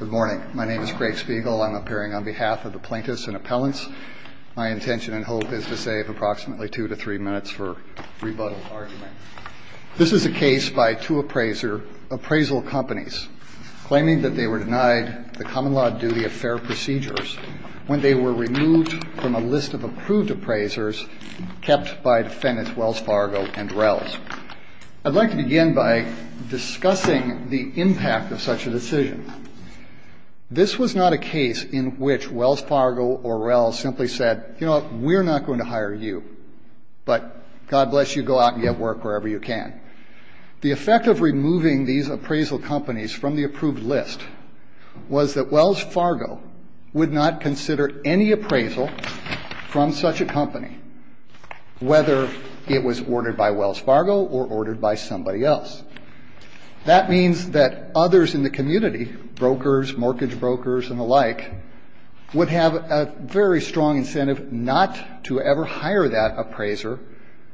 Good morning. My name is Craig Spiegel. I'm appearing on behalf of the plaintiffs and appellants. My intention and hope is to save approximately two to three minutes for rebuttal argument. This is a case by two appraiser appraisal companies claiming that they were denied the common law duty of fair procedures when they were removed from a list of approved appraisers kept by defendants Wells Fargo and Rells. I'd like to begin by discussing the impact of such a decision. This was not a case in which Wells Fargo or Rells simply said, you know, we're not going to hire you, but God bless you, go out and get work wherever you can. The effect of removing these appraisal companies from the approved list was that Wells Fargo would not consider any appraisal from such a company, whether it was ordered by Wells Fargo or ordered by somebody else. That means that others in the community, brokers, mortgage brokers and the like, would have a very strong incentive not to ever hire that appraiser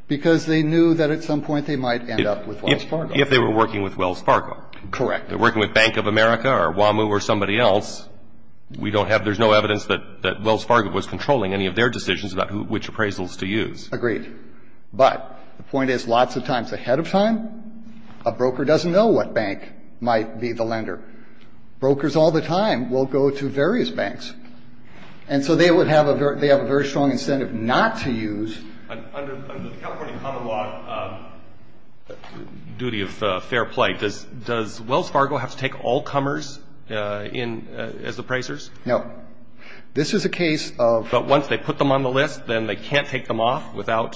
because they knew that at some point they might end up with Wells Fargo. If they were working with Wells Fargo. Correct. If they were working with Bank of America or WAMU or somebody else, we don't have, there's no evidence that Wells Fargo was controlling any of their decisions about which appraisals to use. Agreed. But the point is lots of times ahead of time, a broker doesn't know what bank might be the lender. Brokers all the time will go to various banks. And so they would have a very strong incentive not to use. Under the California Common Law duty of fair play, does Wells Fargo have to take all comers in as appraisers? No. This is a case of. But once they put them on the list, then they can't take them off without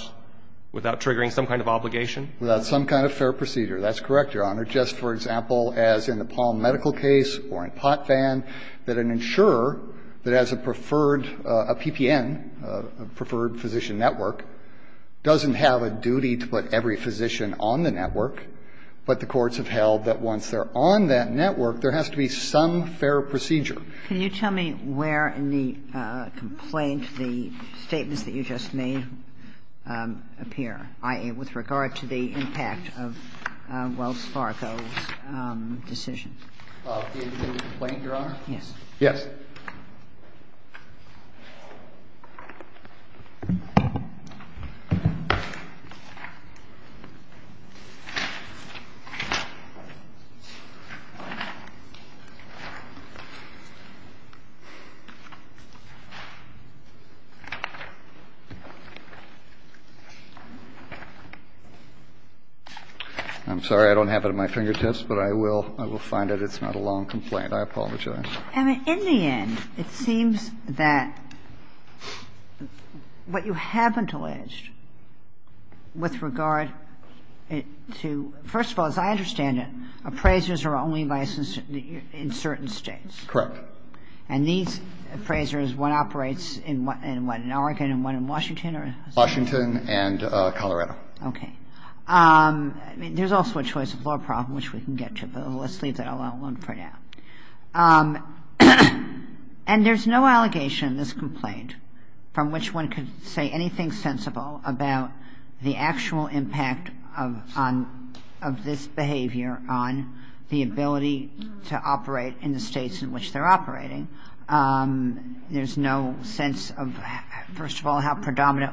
triggering some kind of obligation? Without some kind of fair procedure. That's correct, Your Honor. The courts have held, Your Honor, just for example as in the Palm Medical case or in Pot Fan, that an insurer that has a preferred, a PPN, a Preferred Physician Network, doesn't have a duty to put every physician on the network, but the courts have held that once they're on that network, there has to be some fair procedure. Can you tell me where in the complaint the statements that you just made appear, i.e., with regard to the impact of Wells Fargo's decision? In the complaint, Your Honor? Yes. I'm sorry, I don't have it at my fingertips, but I will find it. It's not a long complaint. I apologize. And in the end, it seems that what you haven't alleged with regard to, first of all, as I understand it, appraisers are only licensed in certain States. Correct. And these appraisers, one operates in what, in Oregon and one in Washington? Washington and Colorado. Okay. There's also a choice of law problem, which we can get to, but let's leave that alone for now. And there's no allegation in this complaint from which one could say anything sensible about the actual impact of this behavior on the ability to operate in the States in which they're operating. There's no sense of, first of all, how predominant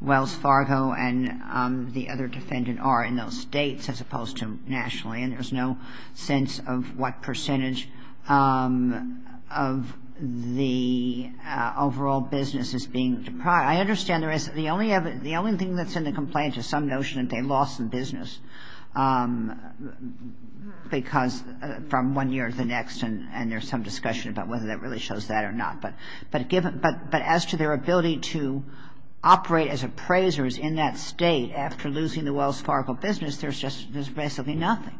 Wells Fargo and the other defendant are in those States as opposed to nationally, and there's no sense of what percentage of the overall business is being deprived. I understand there is. The only thing that's in the complaint is some notion that they lost the business because from one year to the next, and there's some discussion about whether that really shows that or not. But as to their ability to operate as appraisers in that State after losing the Wells Fargo business, there's just, there's basically nothing.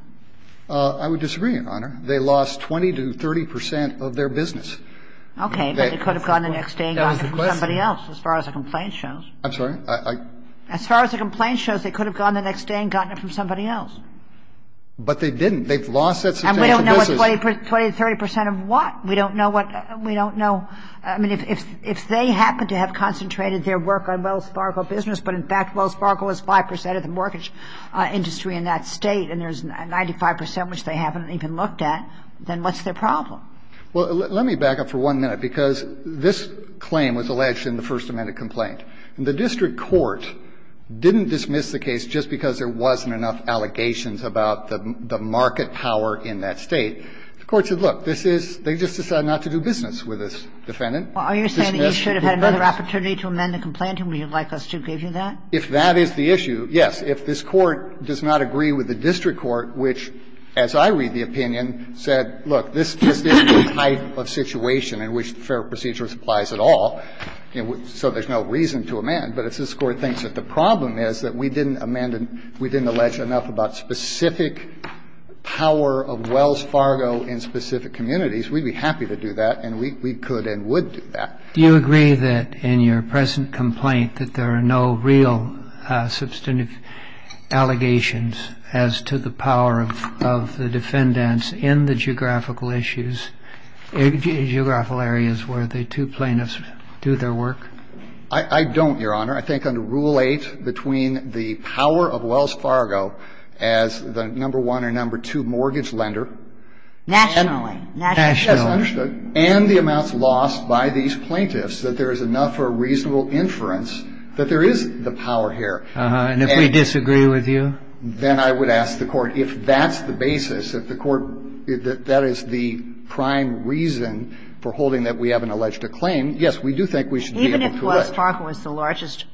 I would disagree, Your Honor. They lost 20 to 30 percent of their business. Okay. But they could have gone the next day and gotten it from somebody else as far as the complaint shows. I'm sorry? As far as the complaint shows, they could have gone the next day and gotten it from somebody else. But they didn't. They've lost that substantial business. And we don't know what 20 to 30 percent of what. We don't know what we don't know. I mean, if they happen to have concentrated their work on Wells Fargo business, but in fact Wells Fargo is 5 percent of the mortgage industry in that State and there's 95 percent, which they haven't even looked at, then what's their problem? Well, let me back up for one minute because this claim was alleged in the first amended complaint. And the district court didn't dismiss the case just because there wasn't enough allegations about the market power in that State. The court said, look, this is, they just decided not to do business with this defendant. Well, are you saying that you should have had another opportunity to amend the complaint and would you like us to give you that? If that is the issue, yes. If this Court does not agree with the district court, which, as I read the opinion, said, look, this is the type of situation in which fair procedure applies at all, so there's no reason to amend. But if this Court thinks that the problem is that we didn't amend and we didn't allege enough about specific power of Wells Fargo in specific communities, we'd be happy to do that and we could and would do that. Do you agree that in your present complaint that there are no real substantive allegations as to the power of the defendants in the geographical issues, geographical areas where the two plaintiffs do their work? I don't, Your Honor. I think under Rule 8, between the power of Wells Fargo as the number one or number two mortgage lender. Nationally. Nationally. Yes, understood. And the amounts lost by these plaintiffs, that there is enough or reasonable inference that there is the power here. Uh-huh. And if we disagree with you? Then I would ask the Court if that's the basis, if the Court, that that is the prime reason for holding that we have an alleged acclaim, yes, we do think we should be able to let. Even if Wells Fargo is the largest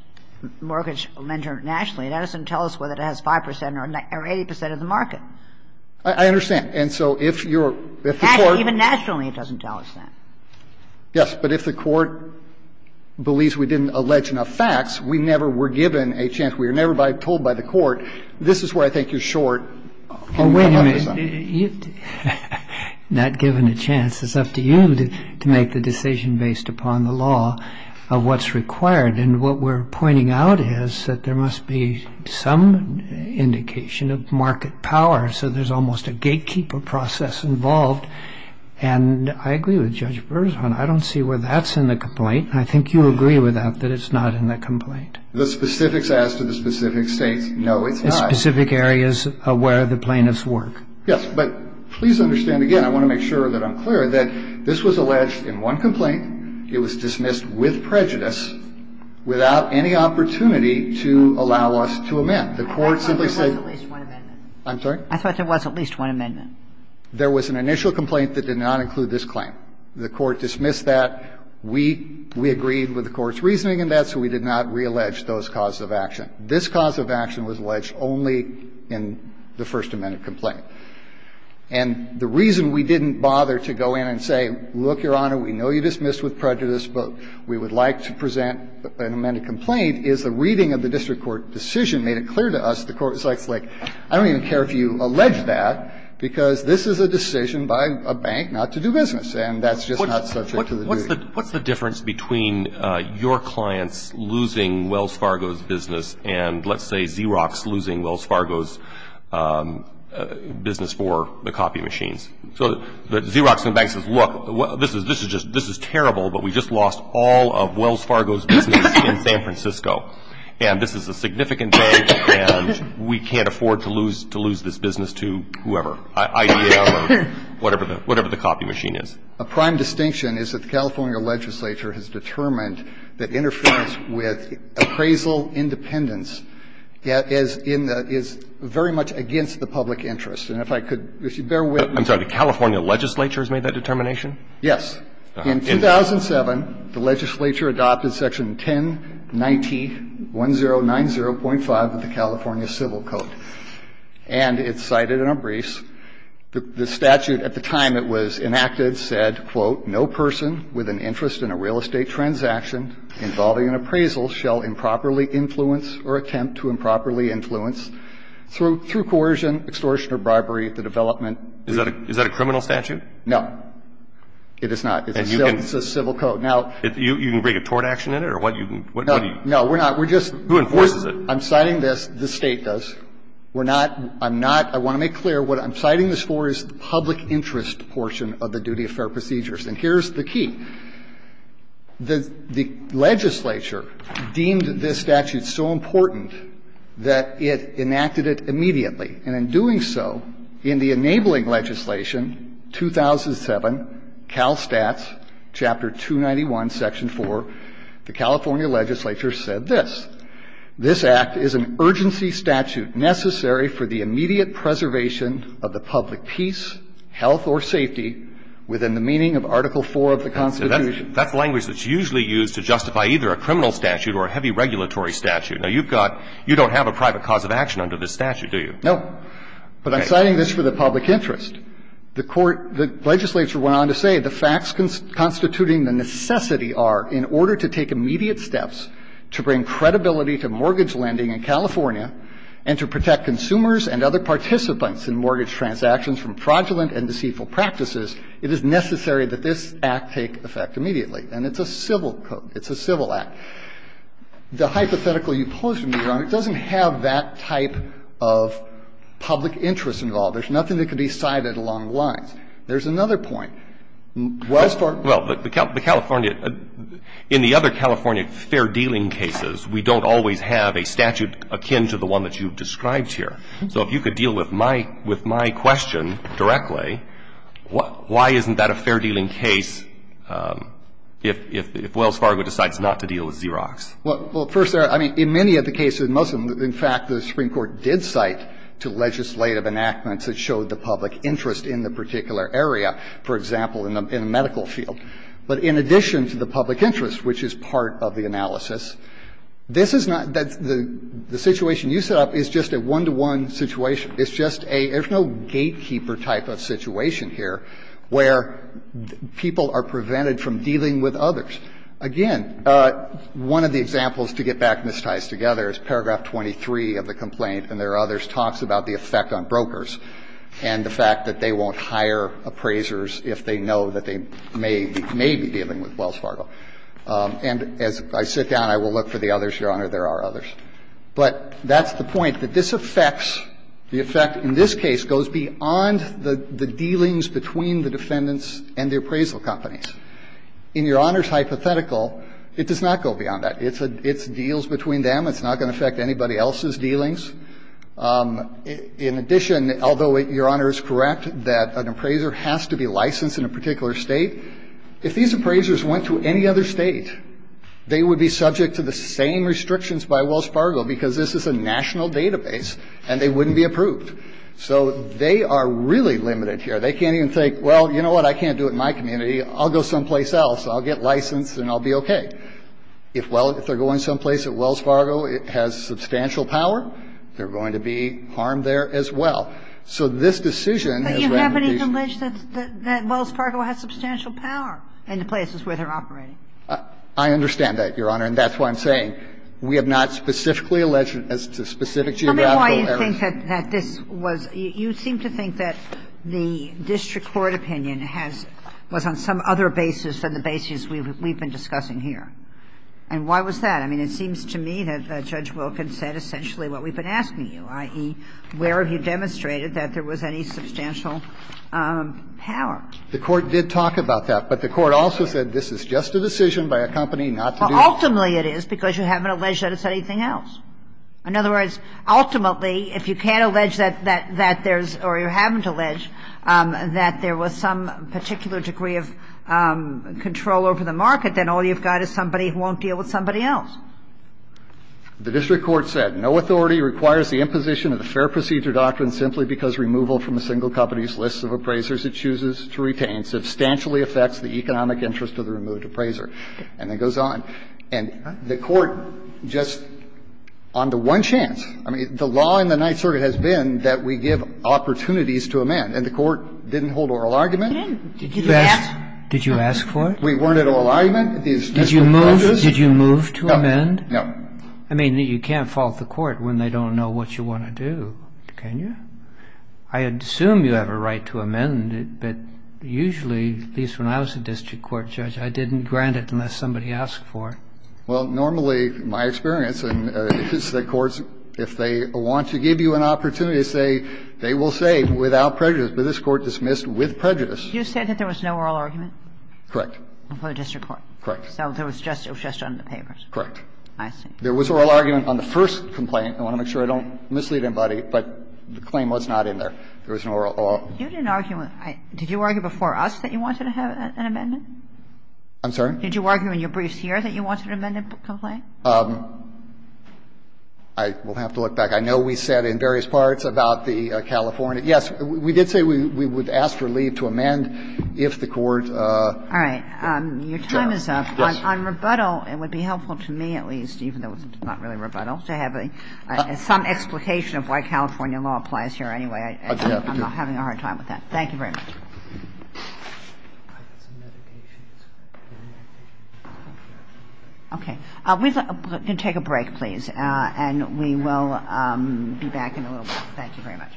mortgage lender nationally, that doesn't tell us whether it has 5 percent or 80 percent of the market. I understand. And so if you're, if the Court. Even nationally, it doesn't tell us that. Yes. But if the Court believes we didn't allege enough facts, we never were given a chance. We were never told by the Court, this is where I think you're short. Oh, wait a minute. Not given a chance. It's up to you to make the decision based upon the law of what's required. And what we're pointing out is that there must be some indication of market power, so there's almost a gatekeeper process involved. And I agree with Judge Berzhon. I don't see where that's in the complaint. And I think you agree with that, that it's not in the complaint. The specifics as to the specific states, no, it's not. The specific areas where the plaintiffs work. Yes. But please understand, again, I want to make sure that I'm clear, that this was alleged in one complaint. It was dismissed with prejudice without any opportunity to allow us to amend. The Court simply said. I'm sorry? I thought there was at least one amendment. There was an initial complaint that did not include this claim. The Court dismissed that. We agreed with the Court's reasoning in that, so we did not reallege those causes of action. This cause of action was alleged only in the First Amendment complaint. And the reason we didn't bother to go in and say, look, Your Honor, we know you dismissed with prejudice, but we would like to present an amended complaint, is the reading of the district court decision made it clear to us. The Court was like, I don't even care if you allege that, because this is a decision by a bank not to do business, and that's just not subject to the duty. What's the difference between your clients losing Wells Fargo's business and, let's say, Xerox losing Wells Fargo's business for the copy machines? So the Xerox in the bank says, look, this is terrible, but we just lost all of Wells Fargo's business in San Francisco. And this is a significant bank, and we can't afford to lose this business to whoever, IBM or whatever the copy machine is. A prime distinction is that the California legislature has determined that interference with appraisal independence is very much against the public interest. And if I could, if you bear with me. I'm sorry. The California legislature has made that determination? Yes. In 2007, the legislature adopted section 10901090.5 of the California Civil Code, and it's cited in our briefs. The statute, at the time it was enacted, said, quote, no person with an interest in a real estate transaction involving an appraisal shall improperly influence or attempt to improperly influence, through coercion, extortion or bribery, the development Is that a criminal statute? No. It is not. It's a civil code. You can bring a tort action in it? No, we're not. Who enforces it? I'm citing this. The State does. We're not, I'm not, I want to make clear, what I'm citing this for is the public interest portion of the duty of fair procedures. And here's the key. The legislature deemed this statute so important that it enacted it immediately. And in doing so, in the enabling legislation, 2007, CalSTATS Chapter 291, Section 4, the California legislature said this. This Act is an urgency statute necessary for the immediate preservation of the public peace, health or safety within the meaning of Article IV of the Constitution. That's language that's usually used to justify either a criminal statute or a heavy regulatory statute. Now, you've got, you don't have a private cause of action under this statute, do you? No. But I'm citing this for the public interest. The court, the legislature went on to say the facts constituting the necessity are, in order to take immediate steps to bring credibility to mortgage lending in California and to protect consumers and other participants in mortgage transactions from fraudulent and deceitful practices, it is necessary that this Act take effect immediately. And it's a civil code. It's a civil Act. The hypothetical you posed to me, Your Honor, doesn't have that type of public interest involved. There's nothing that can be cited along the lines. There's another point. Wells Fargo. Well, the California, in the other California fair-dealing cases, we don't always have a statute akin to the one that you've described here. So if you could deal with my question directly, why isn't that a fair-dealing case if Wells Fargo decides not to deal with Xerox? Well, first, I mean, in many of the cases, most of them, in fact, the Supreme Court did cite to legislative enactments that showed the public interest in the particular area, for example, in the medical field. But in addition to the public interest, which is part of the analysis, this is not the situation you set up is just a one-to-one situation. It's just a – there's no gatekeeper type of situation here where people are prevented from dealing with others. Again, one of the examples, to get back Ms. Tice together, is paragraph 23 of the complaint, and there are others, talks about the effect on brokers and the fact that they won't hire appraisers if they know that they may be dealing with Wells Fargo. And as I sit down, I will look for the others, Your Honor. There are others. But that's the point, that this affects, the effect in this case goes beyond the dealings between the defendants and the appraisal companies. In Your Honor's hypothetical, it does not go beyond that. It's deals between them. It's not going to affect anybody else's dealings. In addition, although Your Honor is correct that an appraiser has to be licensed in a particular State, if these appraisers went to any other State, they would be subject to the same restrictions by Wells Fargo because this is a national database and they wouldn't be approved. So they are really limited here. They can't even think, well, you know what, I can't do it in my community. I'll go someplace else. I'll get licensed and I'll be okay. If, well, if they're going someplace that Wells Fargo has substantial power, they're going to be harmed there as well. So this decision is rather decent. But you have any privilege that Wells Fargo has substantial power in the places where they're operating? I understand that, Your Honor, and that's why I'm saying we have not specifically alleged to specific geographical areas. Kagan. Tell me why you think that this was – you seem to think that the district court opinion has – was on some other basis than the basis we've been discussing here. And why was that? I mean, it seems to me that Judge Wilkins said essentially what we've been asking you, i.e., where have you demonstrated that there was any substantial power? The court did talk about that. But the court also said this is just a decision by a company not to do it. Ultimately, it is, because you haven't alleged that it's anything else. In other words, ultimately, if you can't allege that there's – or you haven't alleged that there was some particular degree of control over the market, then all you've got is somebody who won't deal with somebody else. The district court said, No authority requires the imposition of the Fair Procedure Doctrine simply because removal from a single company's list of appraisers it chooses to retain substantially affects the economic interest of the removed appraiser. And it goes on. And the court just on the one chance – I mean, the law in the Ninth Circuit has been that we give opportunities to amend, and the court didn't hold oral argument. Did you ask for it? We weren't at oral argument. Did you move to amend? No. I mean, you can't fault the court when they don't know what you want to do, can you? I assume you have a right to amend it, but usually, at least when I was a district court judge, I didn't grant it unless somebody asked for it. Well, normally, my experience is that courts, if they want to give you an opportunity to say, they will say without prejudice, but this Court dismissed with prejudice. You said that there was no oral argument? Correct. For the district court? Correct. So it was just on the papers? Correct. I see. There was oral argument on the first complaint. I want to make sure I don't mislead anybody, but the claim was not in there. There was no oral argument. You didn't argue with – did you argue before us that you wanted to have an amendment? I'm sorry? Did you argue in your briefs here that you wanted an amendment to the complaint? I will have to look back. I know we said in various parts about the California – yes, we did say we would ask for leave to amend if the court – All right. Your time is up. Yes. On rebuttal, it would be helpful to me at least, even though it's not really a rebuttal, to have some explication of why California law applies here anyway. I'm having a hard time with that. Thank you very much. Okay. We're going to take a break, please, and we will be back in a little while. Thank you very much.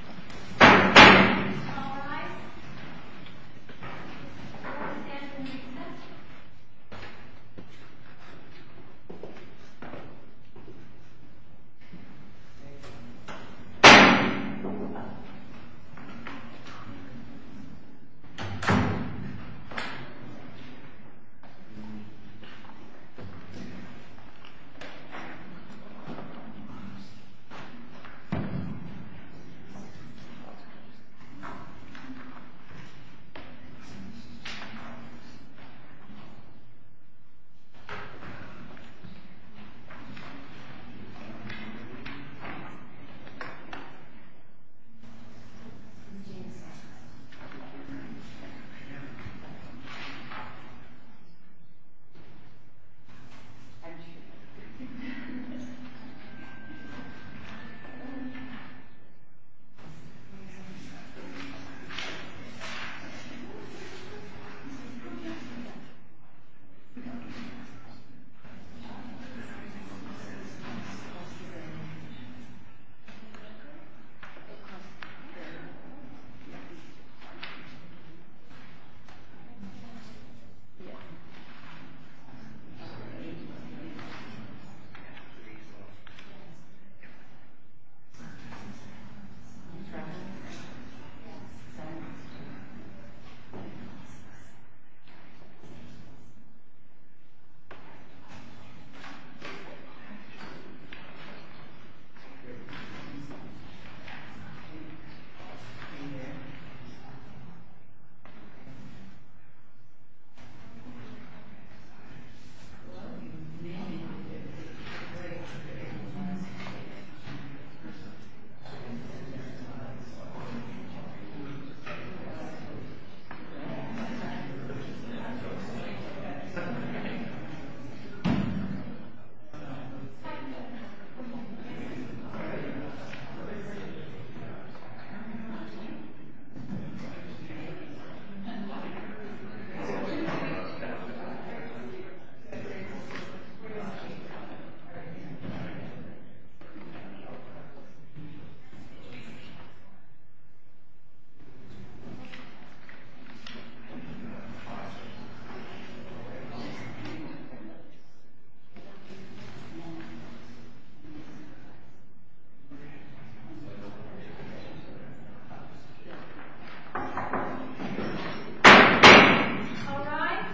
All rise.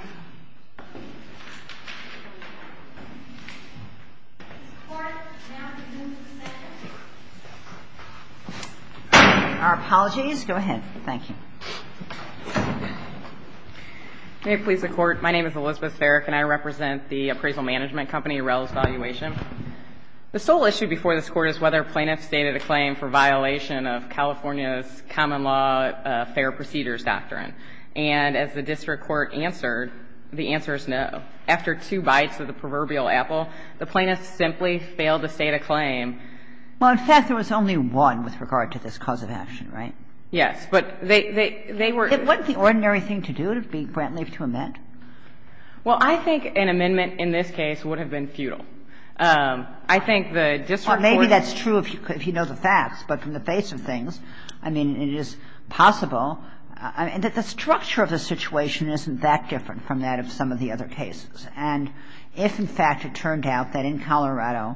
Please stand and be seated. Thank you. Thank you. Thank you. Thank you. Thank you. Thank you. Thank you. Thank you. Thank you. Thank you. Thank you. Thank you. Thank you. Thank you. Thank you. Thank you. Thank you. Our apologies. Go ahead. Thank you. May it please the Court. My name is Elizabeth Farrick and I represent the appraisal management company, Arrell Evaluation. The sole issue before this Court is whether a plaintiff stated a claim for violation of California's common law fair procedures doctrine. And as the district court answered, the answer is no. After two bites of the proverbial apple, the plaintiff simply failed to state a claim. Well, in fact, there was only one with regard to this cause of action, right? Yes. But they were It wasn't the ordinary thing to do, to be grant leave to amend? Well, I think an amendment in this case would have been futile. I think the district court Well, maybe that's true if you know the facts. But from the face of things, I mean, it is possible. I mean, the structure of the situation isn't that different from that of some of the other cases. And if, in fact, it turned out that in Colorado,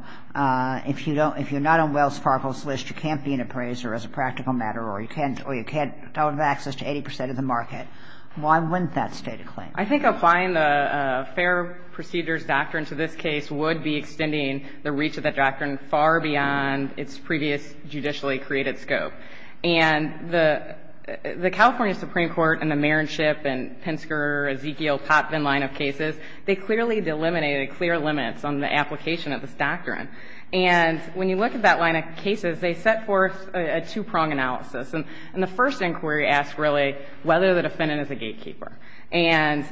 if you don't – if you're not on Wells Fargo's list, you can't be an appraiser as a practical matter or you can't – or you can't have access to 80 percent of the market, why wouldn't that state a claim? I think applying the fair procedures doctrine to this case would be extending the reach of that doctrine far beyond its previous judicially created scope. And the California Supreme Court and the Marinship and Pinsker, Ezekiel, Popvin line of cases, they clearly delimited clear limits on the application of this doctrine. And when you look at that line of cases, they set forth a two-prong analysis. And the first inquiry asked, really, whether the defendant is a gatekeeper. And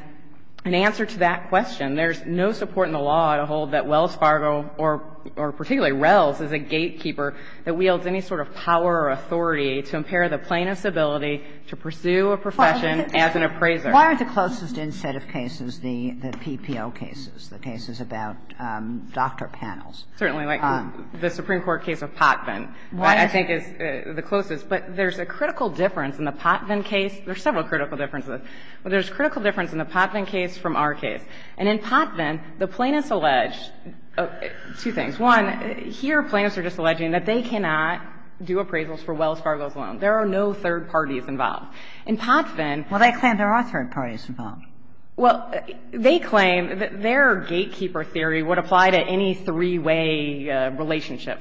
in answer to that question, there's no support in the law to hold that Wells Fargo, or particularly Rells, is a gatekeeper that wields any sort of power or authority to impair the plaintiff's ability to pursue a profession as an appraiser. Why are the closest instead of cases the PPO cases, the cases about doctor panels? Certainly, like the Supreme Court case of Popvin, I think, is the closest. But there's a critical difference in the Popvin case. There are several critical differences. But there's a critical difference in the Popvin case from our case. And in Popvin, the plaintiffs allege two things. One, here plaintiffs are just alleging that they cannot do appraisals for Wells Fargo's loan. There are no third parties involved. In Popvin they claim there are third parties involved. Well, they claim that their gatekeeper theory would apply to any three-way relationship.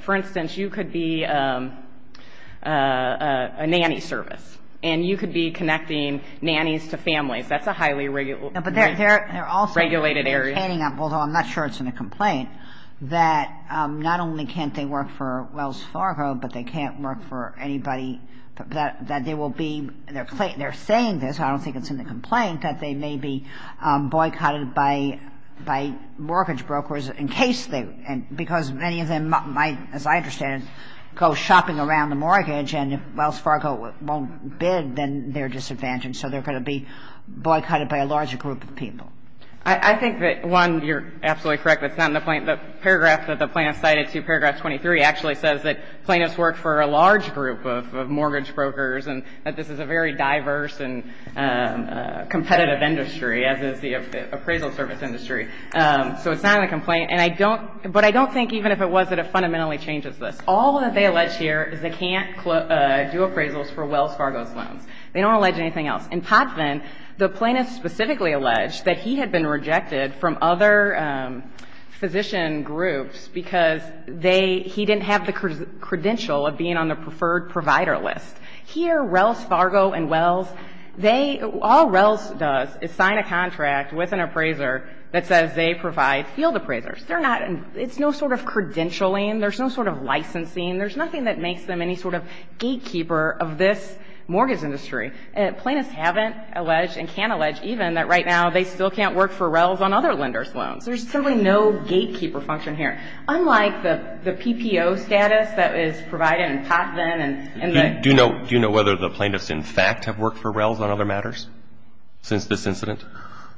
And you could be connecting nannies to families. That's a highly regular relationship. But they're also complaining, although I'm not sure it's in the complaint, that not only can't they work for Wells Fargo, but they can't work for anybody that they will be they're saying this, I don't think it's in the complaint, that they may be boycotted by mortgage brokers in case they, because many of them might, as I understand it, go shopping around the mortgage. And if Wells Fargo won't bid, then they're disadvantaged. And so they're going to be boycotted by a large group of people. I think that, one, you're absolutely correct, that's not in the plaintiff paragraph, that the plaintiff cited to paragraph 23 actually says that plaintiffs work for a large group of mortgage brokers and that this is a very diverse and competitive industry, as is the appraisal service industry. So it's not in the complaint. And I don't, but I don't think even if it was that it fundamentally changes this. All that they allege here is they can't do appraisals for Wells Fargo's loans. They don't allege anything else. In Potvin, the plaintiff specifically alleged that he had been rejected from other physician groups because they, he didn't have the credential of being on the preferred provider list. Here, Wells Fargo and Wells, they, all Wells does is sign a contract with an appraiser that says they provide field appraisers. They're not, it's no sort of credentialing. There's no sort of licensing. There's nothing that makes them any sort of gatekeeper of this mortgage industry. Plaintiffs haven't alleged and can't allege even that right now they still can't work for Wells on other lenders' loans. There's simply no gatekeeper function here, unlike the, the PPO status that is provided in Potvin and, and the. Do you know, do you know whether the plaintiffs in fact have worked for Wells on other matters since this incident?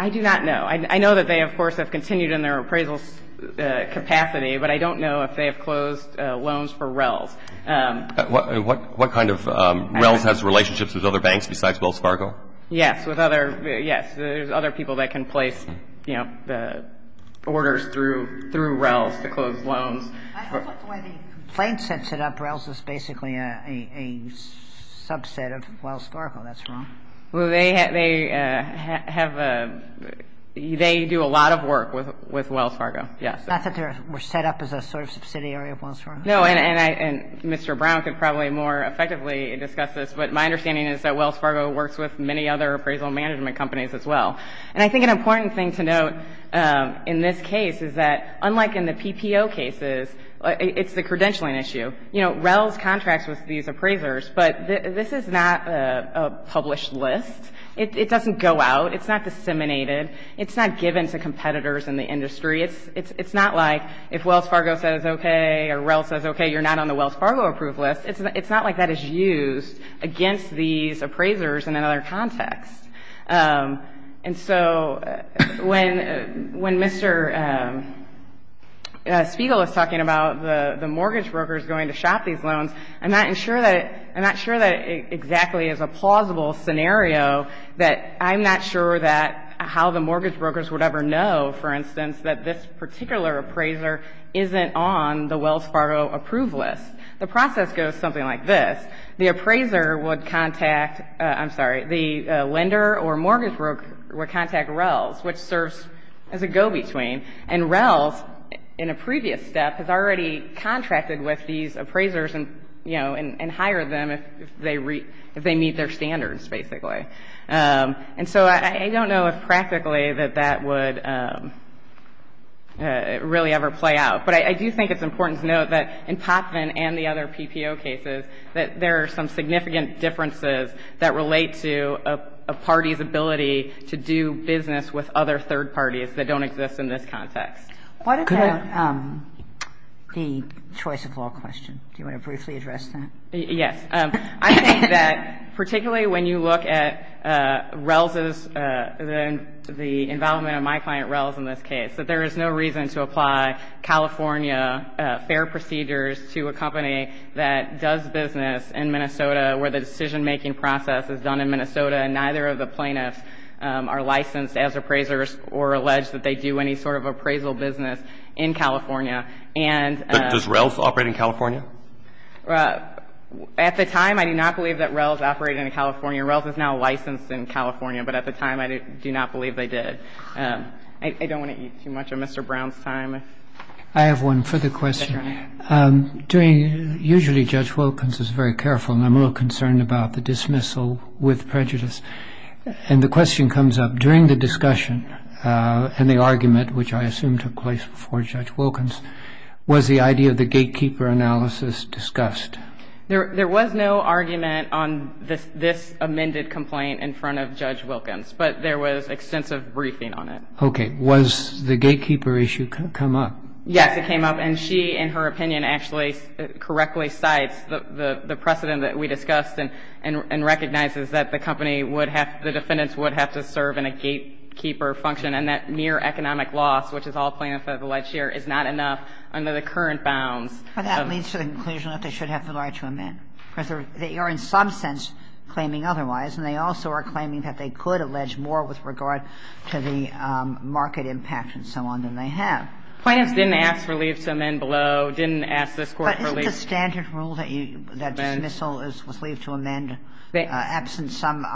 I do not know. I know that they, of course, have continued in their appraisal capacity, but I don't know if they have closed loans for RELS. What, what kind of, RELS has relationships with other banks besides Wells Fargo? Yes. With other, yes. There's other people that can place, you know, the orders through, through RELS to close loans. I thought the way the plaintiffs had set up RELS was basically a, a subset of Wells Fargo. That's wrong. Well, they, they have a, they do a lot of work with, with Wells Fargo, yes. Not that they were set up as a sort of subsidiary of Wells Fargo. No. And I, and Mr. Brown could probably more effectively discuss this, but my understanding is that Wells Fargo works with many other appraisal management companies as well. And I think an important thing to note in this case is that, unlike in the PPO cases, it's the credentialing issue. You know, RELS contracts with these appraisers, but this is not a, a published list. It, it doesn't go out. It's not disseminated. It's not given to competitors in the industry. It's, it's, it's not like if Wells Fargo says okay or RELS says okay, you're not on the Wells Fargo approved list. It's, it's not like that is used against these appraisers in another context. And so when, when Mr. Spiegel is talking about the, the mortgage brokers going to shop these loans, I'm not sure that, I'm not sure that exactly is a plausible scenario that I'm not sure that how the mortgage brokers would ever know, for instance, that this particular appraiser isn't on the Wells Fargo approved list. The process goes something like this. The appraiser would contact, I'm sorry, the lender or mortgage broker would contact RELS, which serves as a go-between. And RELS, in a previous step, has already contracted with these appraisers and, you And so I don't know if practically that that would really ever play out. But I do think it's important to note that in Popvin and the other PPO cases that there are some significant differences that relate to a party's ability to do business with other third parties that don't exist in this context. Kagan. Kagan. The choice of law question. Do you want to briefly address that? Yes. I think that particularly when you look at RELS's, the involvement of my client RELS in this case, that there is no reason to apply California fair procedures to a company that does business in Minnesota where the decision-making process is done in Minnesota and neither of the plaintiffs are licensed as appraisers or alleged that they do any sort of appraisal business in California. And Does RELS operate in California? At the time, I do not believe that RELS operated in California. RELS is now licensed in California. But at the time, I do not believe they did. I don't want to eat too much of Mr. Brown's time. I have one further question. Usually Judge Wilkins is very careful, and I'm a little concerned about the dismissal with prejudice. And the question comes up, during the discussion and the argument, which I assume took place before Judge Wilkins, was the idea of the gatekeeper analysis discussed? There was no argument on this amended complaint in front of Judge Wilkins. But there was extensive briefing on it. Okay. Was the gatekeeper issue come up? Yes, it came up. And she, in her opinion, actually correctly cites the precedent that we discussed and recognizes that the company would have, the defendants would have to serve in a gatekeeper function and that mere economic loss, which is all plaintiffs have alleged here, is not enough under the current bounds. But that leads to the conclusion that they should have the right to amend. Because they are in some sense claiming otherwise, and they also are claiming that they could allege more with regard to the market impact and so on than they have. Plaintiffs didn't ask for leave to amend below, didn't ask this Court for leave. But isn't the standard rule that you, that dismissal is leave to amend, absent some,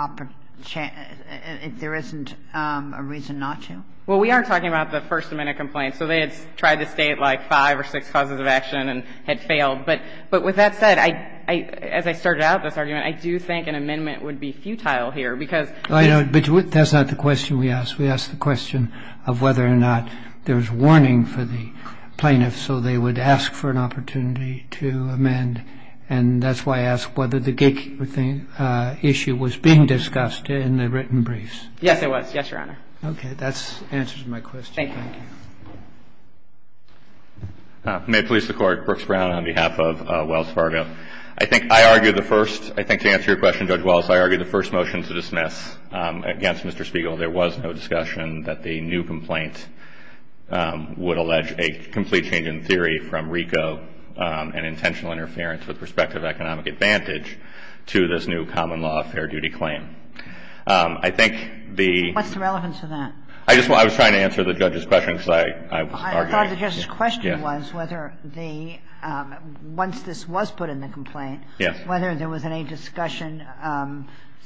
if there isn't a reason not to? Well, we are talking about the First Amendment complaint. So they had tried to state, like, five or six causes of action and had failed. But with that said, as I started out this argument, I do think an amendment would be futile here, because the ---- But that's not the question we asked. We asked the question of whether or not there was warning for the plaintiffs so they would ask for an opportunity to amend. And that's why I asked whether the gatekeeper issue was being discussed in the written briefs. Yes, it was. Yes, Your Honor. That answers my question. Thank you. Thank you. May it please the Court. Brooks Brown on behalf of Wells Fargo. I think I argued the first, I think to answer your question, Judge Wells, I argued the first motion to dismiss against Mr. Spiegel, there was no discussion that the new complaint would allege a complete change in theory from RICO and intentional interference with respect to economic advantage to this new common law of fair duty claim. I think the ---- What's the relevance of that? I was trying to answer the judge's question, because I was arguing ---- I thought the judge's question was whether the, once this was put in the complaint, whether there was any discussion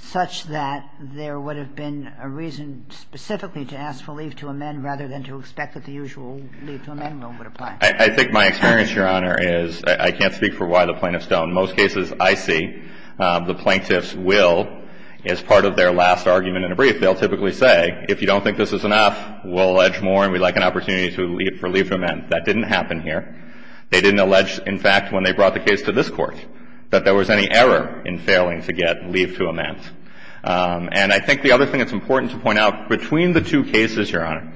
such that there would have been a reason specifically to ask for leave to amend rather than to expect that the usual leave to amend rule would apply. I think my experience, Your Honor, is I can't speak for why the plaintiffs don't. In most cases, I see the plaintiffs will, as part of their last argument in a brief, they'll typically say, if you don't think this is enough, we'll allege more and we'd like an opportunity for leave to amend. That didn't happen here. They didn't allege, in fact, when they brought the case to this Court, that there was any error in failing to get leave to amend. And I think the other thing that's important to point out, between the two cases, Your Honor,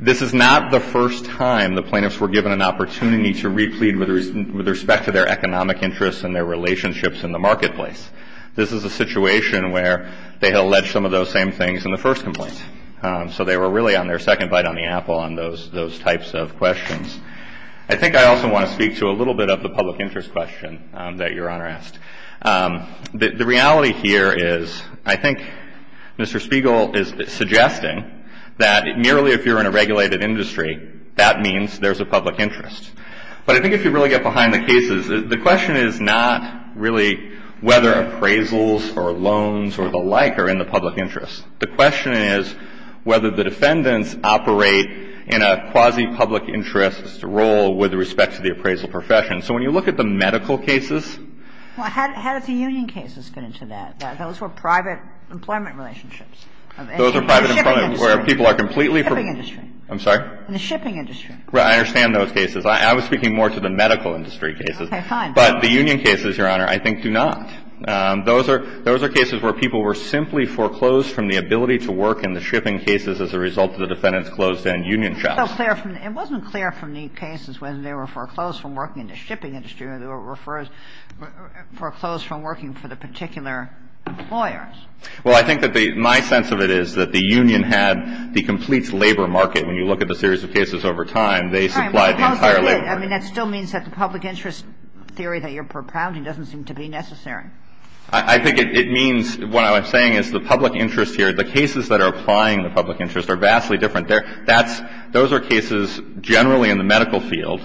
this is not the first time the plaintiffs were given an opportunity to replete with respect to their economic interests and their relationships in the marketplace. This is a situation where they had alleged some of those same things in the first complaint. So they were really on their second bite on the apple on those types of questions. I think I also want to speak to a little bit of the public interest question that Your Honor asked. The reality here is I think Mr. Spiegel is suggesting that merely if you're in a regulated industry, that means there's a public interest. But I think if you really get behind the cases, the question is not really whether appraisals or loans or the like are in the public interest. The question is whether the defendants operate in a quasi-public interest role with respect to the appraisal profession. So when you look at the medical cases ---- Well, how did the union cases get into that? Those were private employment relationships. Those were private employment where people are completely ---- In the shipping industry. I'm sorry? In the shipping industry. I understand those cases. I was speaking more to the medical industry cases. Okay, fine. But the union cases, Your Honor, I think do not. Those are cases where people were simply foreclosed from the ability to work in the shipping cases as a result of the defendants' closed-end union jobs. It wasn't clear from the cases whether they were foreclosed from working in the shipping industry or they were foreclosed from working for the particular employers. Well, I think that my sense of it is that the union had the complete labor market when you look at the series of cases over time. They supplied the entire labor market. I mean, that still means that the public interest theory that you're propounding doesn't seem to be necessary. I think it means what I'm saying is the public interest here, the cases that are applying the public interest are vastly different. They're – that's – those are cases generally in the medical field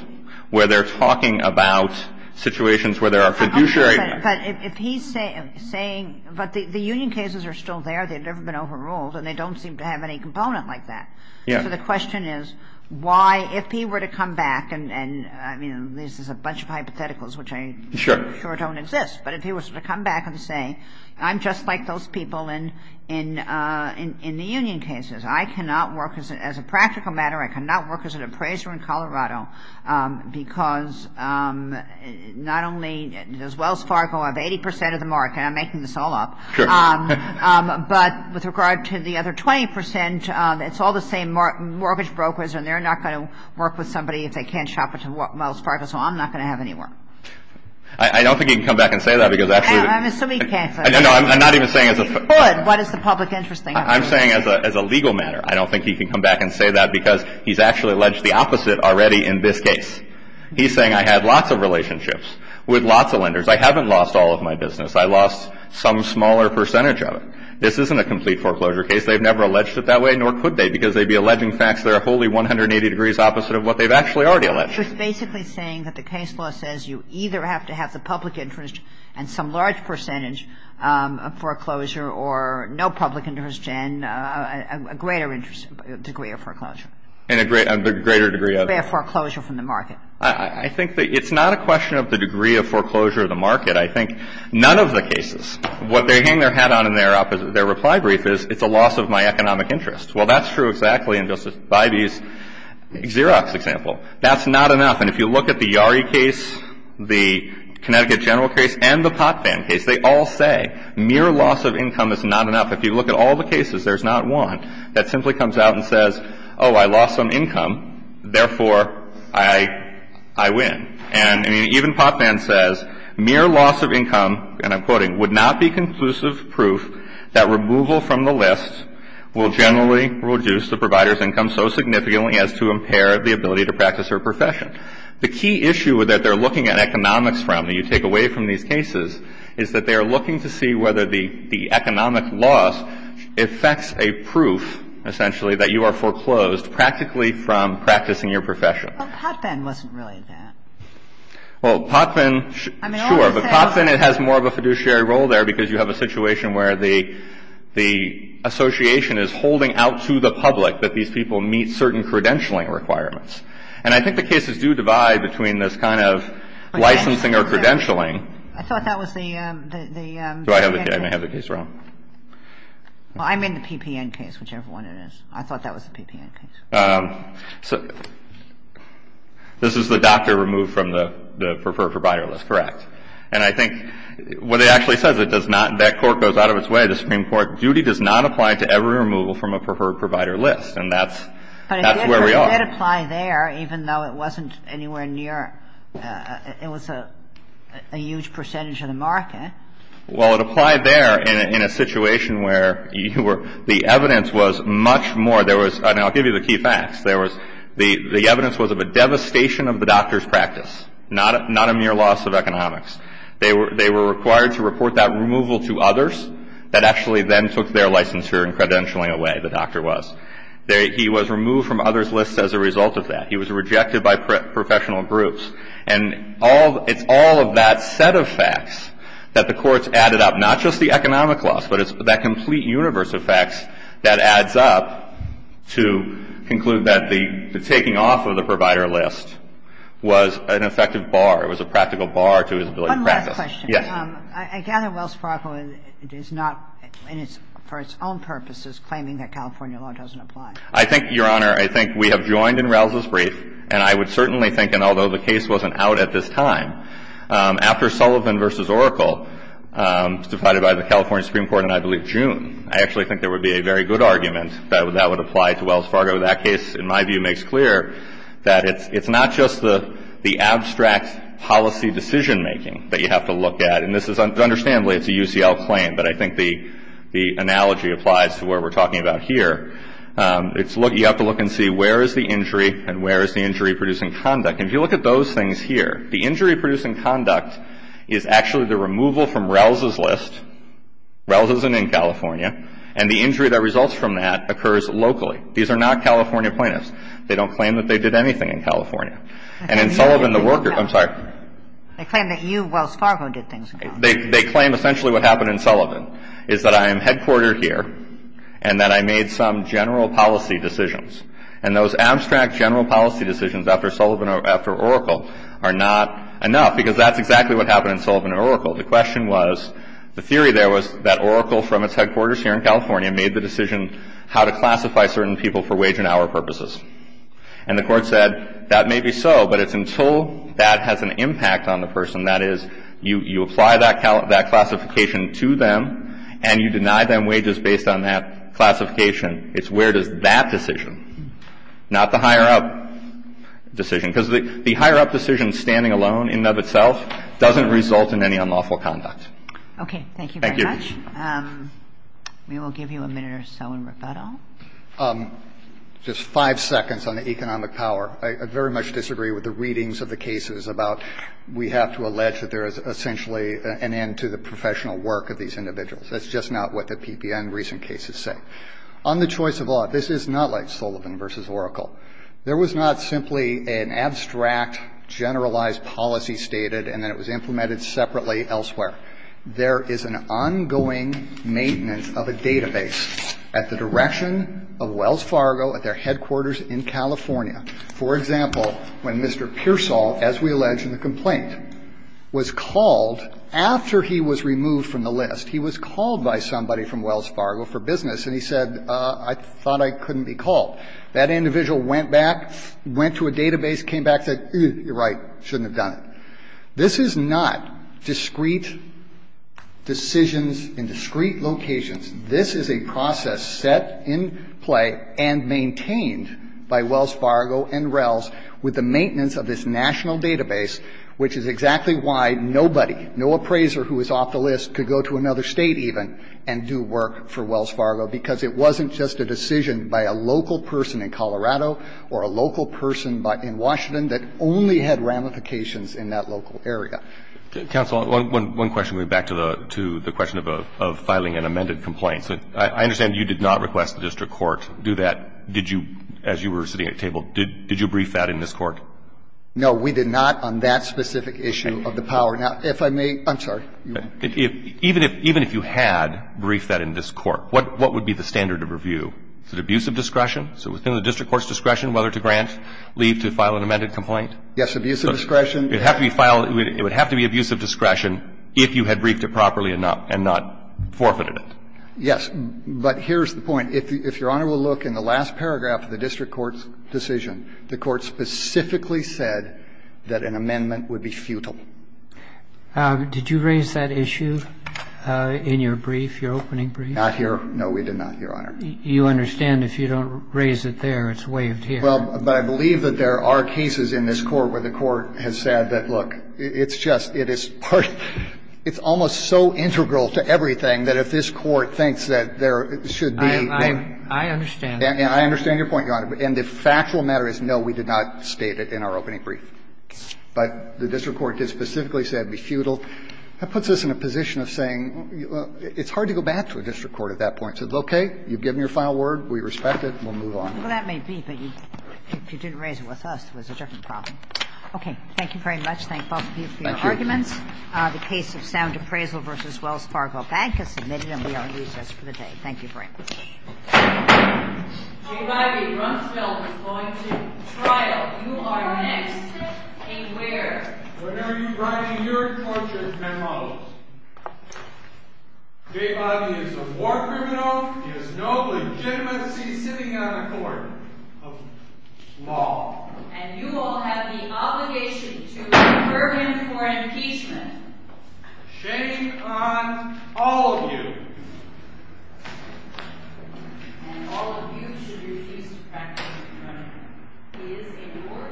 where they're talking about situations where there are fiduciary – Okay. But if he's saying – but the union cases are still there. They've never been overruled, and they don't seem to have any component like that. Yeah. So the question is why – if he were to come back and – I mean, this is a bunch of hypotheticals, which I'm sure don't exist. Sure. But if he was to come back and say, I'm just like those people in the union cases. I cannot work as a – as a practical matter, I cannot work as an appraiser in Colorado because not only does Wells Fargo have 80 percent of the market – and I'm making this all up – Sure. But with regard to the other 20 percent, it's all the same mortgage brokers, and they're not going to work with somebody if they can't shop at Wells Fargo, so I'm not going to have any work. I don't think he can come back and say that because actually – I'm assuming he can't say that. No, I'm not even saying as a – Good. What is the public interest thing? I'm saying as a – as a legal matter, I don't think he can come back and say that because he's actually alleged the opposite already in this case. He's saying I had lots of relationships with lots of lenders. I haven't lost all of my business. I lost some smaller percentage of it. This isn't a complete foreclosure case. They've never alleged it that way, nor could they, because they'd be alleging facts that are wholly 180 degrees opposite of what they've actually already alleged. So he's basically saying that the case law says you either have to have the public interest and some large percentage of foreclosure or no public interest and a greater degree of foreclosure. And a greater degree of – Foreclosure from the market. I think that it's not a question of the degree of foreclosure of the market. I think none of the cases, what they hang their hat on in their reply brief is it's a loss of my economic interest. Well, that's true exactly in Justice Bybee's Xerox example. That's not enough. And if you look at the Yarry case, the Connecticut general case, and the Potvan case, they all say mere loss of income is not enough. If you look at all the cases, there's not one that simply comes out and says, oh, I lost some income, therefore I win. And even Potvan says mere loss of income, and I'm quoting, would not be conclusive proof that removal from the list will generally reduce the provider's income so significantly as to impair the ability to practice her profession. The key issue that they're looking at economics from, that you take away from these cases, is that they are looking to see whether the economic loss affects a proof, essentially, that you are foreclosed practically from practicing your profession. Well, Potvan wasn't really that. Well, Potvan, sure. But Potvan, it has more of a fiduciary role there because you have a situation where the association is holding out to the public that these people meet certain credentialing requirements. And I think the cases do divide between this kind of licensing or credentialing. I thought that was the PPN case. I may have the case wrong. Well, I'm in the PPN case, whichever one it is. I thought that was the PPN case. This is the doctor removed from the preferred provider list. Correct. And I think what it actually says, it does not, that court goes out of its way, the Supreme Court, duty does not apply to every removal from a preferred provider list, and that's where we are. But it did apply there, even though it wasn't anywhere near, it was a huge percentage of the market. Well, it applied there in a situation where you were, the evidence was much more, there was, and I'll give you the key facts, there was, the evidence was of a devastation of the doctor's practice, not a mere loss of economics. They were required to report that removal to others that actually then took their licensure and credentialing away, the doctor was. He was removed from others' lists as a result of that. He was rejected by professional groups. And it's all of that set of facts that the courts added up, not just the economic loss, but it's that complete universe of facts that adds up to conclude that the taking off of the provider list was an effective bar, it was a practical bar to his ability to practice. Yes. I gather Wells Fargo does not, for its own purposes, claiming that California law doesn't apply. I think, Your Honor, I think we have joined in Rouse's brief, and I would certainly think, and although the case wasn't out at this time, after Sullivan v. Oracle, decided by the California Supreme Court in, I believe, June, I actually think there would be a very good argument that that would apply to Wells Fargo. That case, in my view, makes clear that it's not just the abstract policy decision-making that you have to look at, and this is, understandably, it's a UCL claim, but I think the analogy applies to what we're talking about here. It's, you have to look and see where is the injury and where is the injury producing conduct. And if you look at those things here, the injury producing conduct is actually the removal from Rouse's list, Rouse isn't in California, and the injury that results from that occurs locally. These are not California plaintiffs. They don't claim that they did anything in California. And in Sullivan, the worker, I'm sorry. They claim that you, Wells Fargo, did things in California. They claim essentially what happened in Sullivan is that I am headquartered here, and that I made some general policy decisions. And those abstract general policy decisions after Sullivan or after Oracle are not enough, because that's exactly what happened in Sullivan and Oracle. The question was, the theory there was that Oracle from its headquarters here in California was going to pay $1,000 people for wage and hour purposes. And the court said, that may be so, but it's until that has an impact on the person, that is, you apply that classification to them, and you deny them wages based on that classification, it's where does that decision, not the higher up decision. Because the higher up decision, standing alone in and of itself, doesn't result in any unlawful conduct. Thank you. Thank you very much. We will give you a minute or so in rebuttal. Just five seconds on the economic power. I very much disagree with the readings of the cases about we have to allege that there is essentially an end to the professional work of these individuals. That's just not what the PPN recent cases say. On the choice of law, this is not like Sullivan versus Oracle. There was not simply an abstract, generalized policy stated, and then it was implemented separately elsewhere. There is an ongoing maintenance of a database at the direction of Wells Fargo, at their headquarters in California. For example, when Mr. Pearsall, as we allege in the complaint, was called, after he was removed from the list, he was called by somebody from Wells Fargo for business, and he said, I thought I couldn't be called. That individual went back, went to a database, came back, said, you're right, shouldn't have done it. This is not discrete decisions in discrete locations. This is a process set in play and maintained by Wells Fargo and RELS with the maintenance of this national database, which is exactly why nobody, no appraiser who is off the list could go to another State even and do work for Wells Fargo, because it wasn't just a decision by a local person in Colorado or a local person in Washington that only had ramifications in that local area. Roberts. Counsel, one question going back to the question of filing an amended complaint. I understand you did not request the district court do that. Did you, as you were sitting at the table, did you brief that in this court? No, we did not on that specific issue of the power. Now, if I may, I'm sorry. Even if you had briefed that in this court, what would be the standard of review? Is it abuse of discretion? So within the district court's discretion whether to grant leave to file an amended complaint? Yes, abuse of discretion. It would have to be abuse of discretion if you had briefed it properly enough and not forfeited it. Yes, but here's the point. If Your Honor will look in the last paragraph of the district court's decision, the court specifically said that an amendment would be futile. Did you raise that issue in your brief, your opening brief? Not here. No, we did not, Your Honor. You understand if you don't raise it there, it's waived here. Well, but I believe that there are cases in this court where the court has said that, look, it's just, it is part of, it's almost so integral to everything that if this court thinks that there should be. I understand. I understand your point, Your Honor. And the factual matter is no, we did not state it in our opening brief. But the district court did specifically say it would be futile. That puts us in a position of saying it's hard to go back to a district court at that point. Is it okay? You've given your final word. We respect it. We'll move on. Well, that may be. But if you didn't raise it with us, it was a different problem. Thank you very much. Thank both of you for your arguments. Thank you. The case of sound appraisal v. Wells Fargo Bank is submitted and we are at recess for the day. Thank you very much. J. Bobby Rumsfeld is going to trial. Okay, where? Whenever you're writing your torture memos. J. Bobby is a war criminal. You are next. Okay, where? Whenever you're writing your torture memos. J. Bobby Rumsfeld is no legitimacy sitting on the court. Law. And you all have the obligation to defer him to impeachment. Shame on all of you. And all of you should refuse to practice the committment. He is a war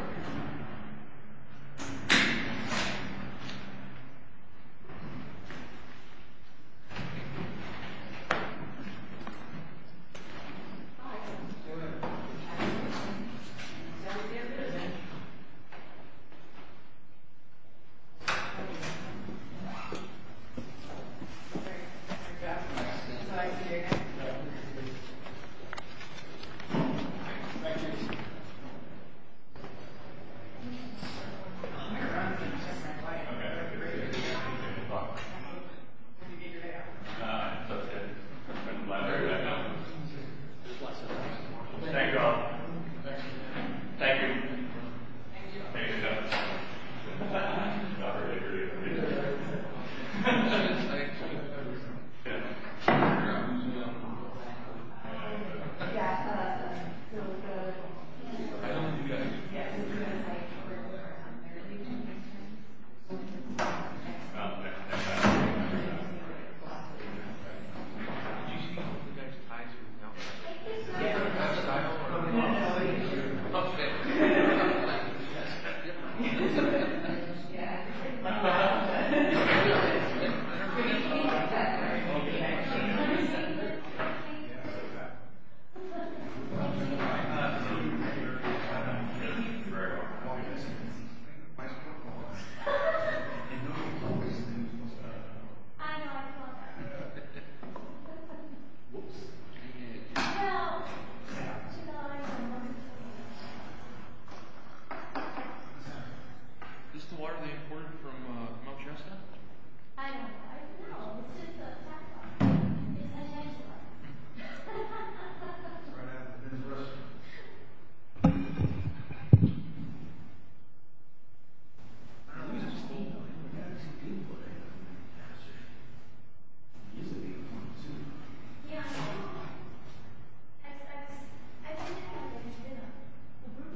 criminal. Hi. Good. How are you? Good. How are you? Good. How are you? Good. Good. Great. Good job. Nice to see you again. Nice to see you. Thank you. Thank you. Microphone. Just right by you. Okay. Thank you. Good to see you. Good to see you. Good luck. Thank you. Good luck. Thank you all. Thank you. You've already got it. Look at you. Look like you got it. Yeah. No, I don't have to get ready for you and run around. Okay. No, I got it. Okay. Oh. That's it. Let go.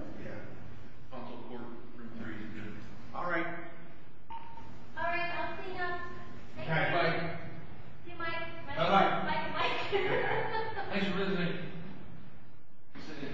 Okay. Yeah. Yeah. Take pictures. Thank you very much. I know. I saw that. Yeah. Whoops. No. Yeah. Is this the water they imported from, uh, from Augusta? I don't know. I don't know. It's just a tap water. It's a gentler water. Thank you. Thank you. Thank you. Thank you. Thank you. Thank you. Thank you. Thank you. Thank you. Thank you. Thank you. Thank you. I don't think this is cold. I think we have it too deep for that. I don't know. I'm not sure. It is a big pond, too. Yeah, I know. I, I, I think I have it in here now. Yeah. I'll tell the court room three is good. All right. All right. I'll see you now. Okay. Bye. Bye, Mike. Thanks for visiting. We'll send you a copy. Bye. Bye. Bye. Bye. Bye. Bye. Bye. Bye. Bye. Bye. Bye. Bye.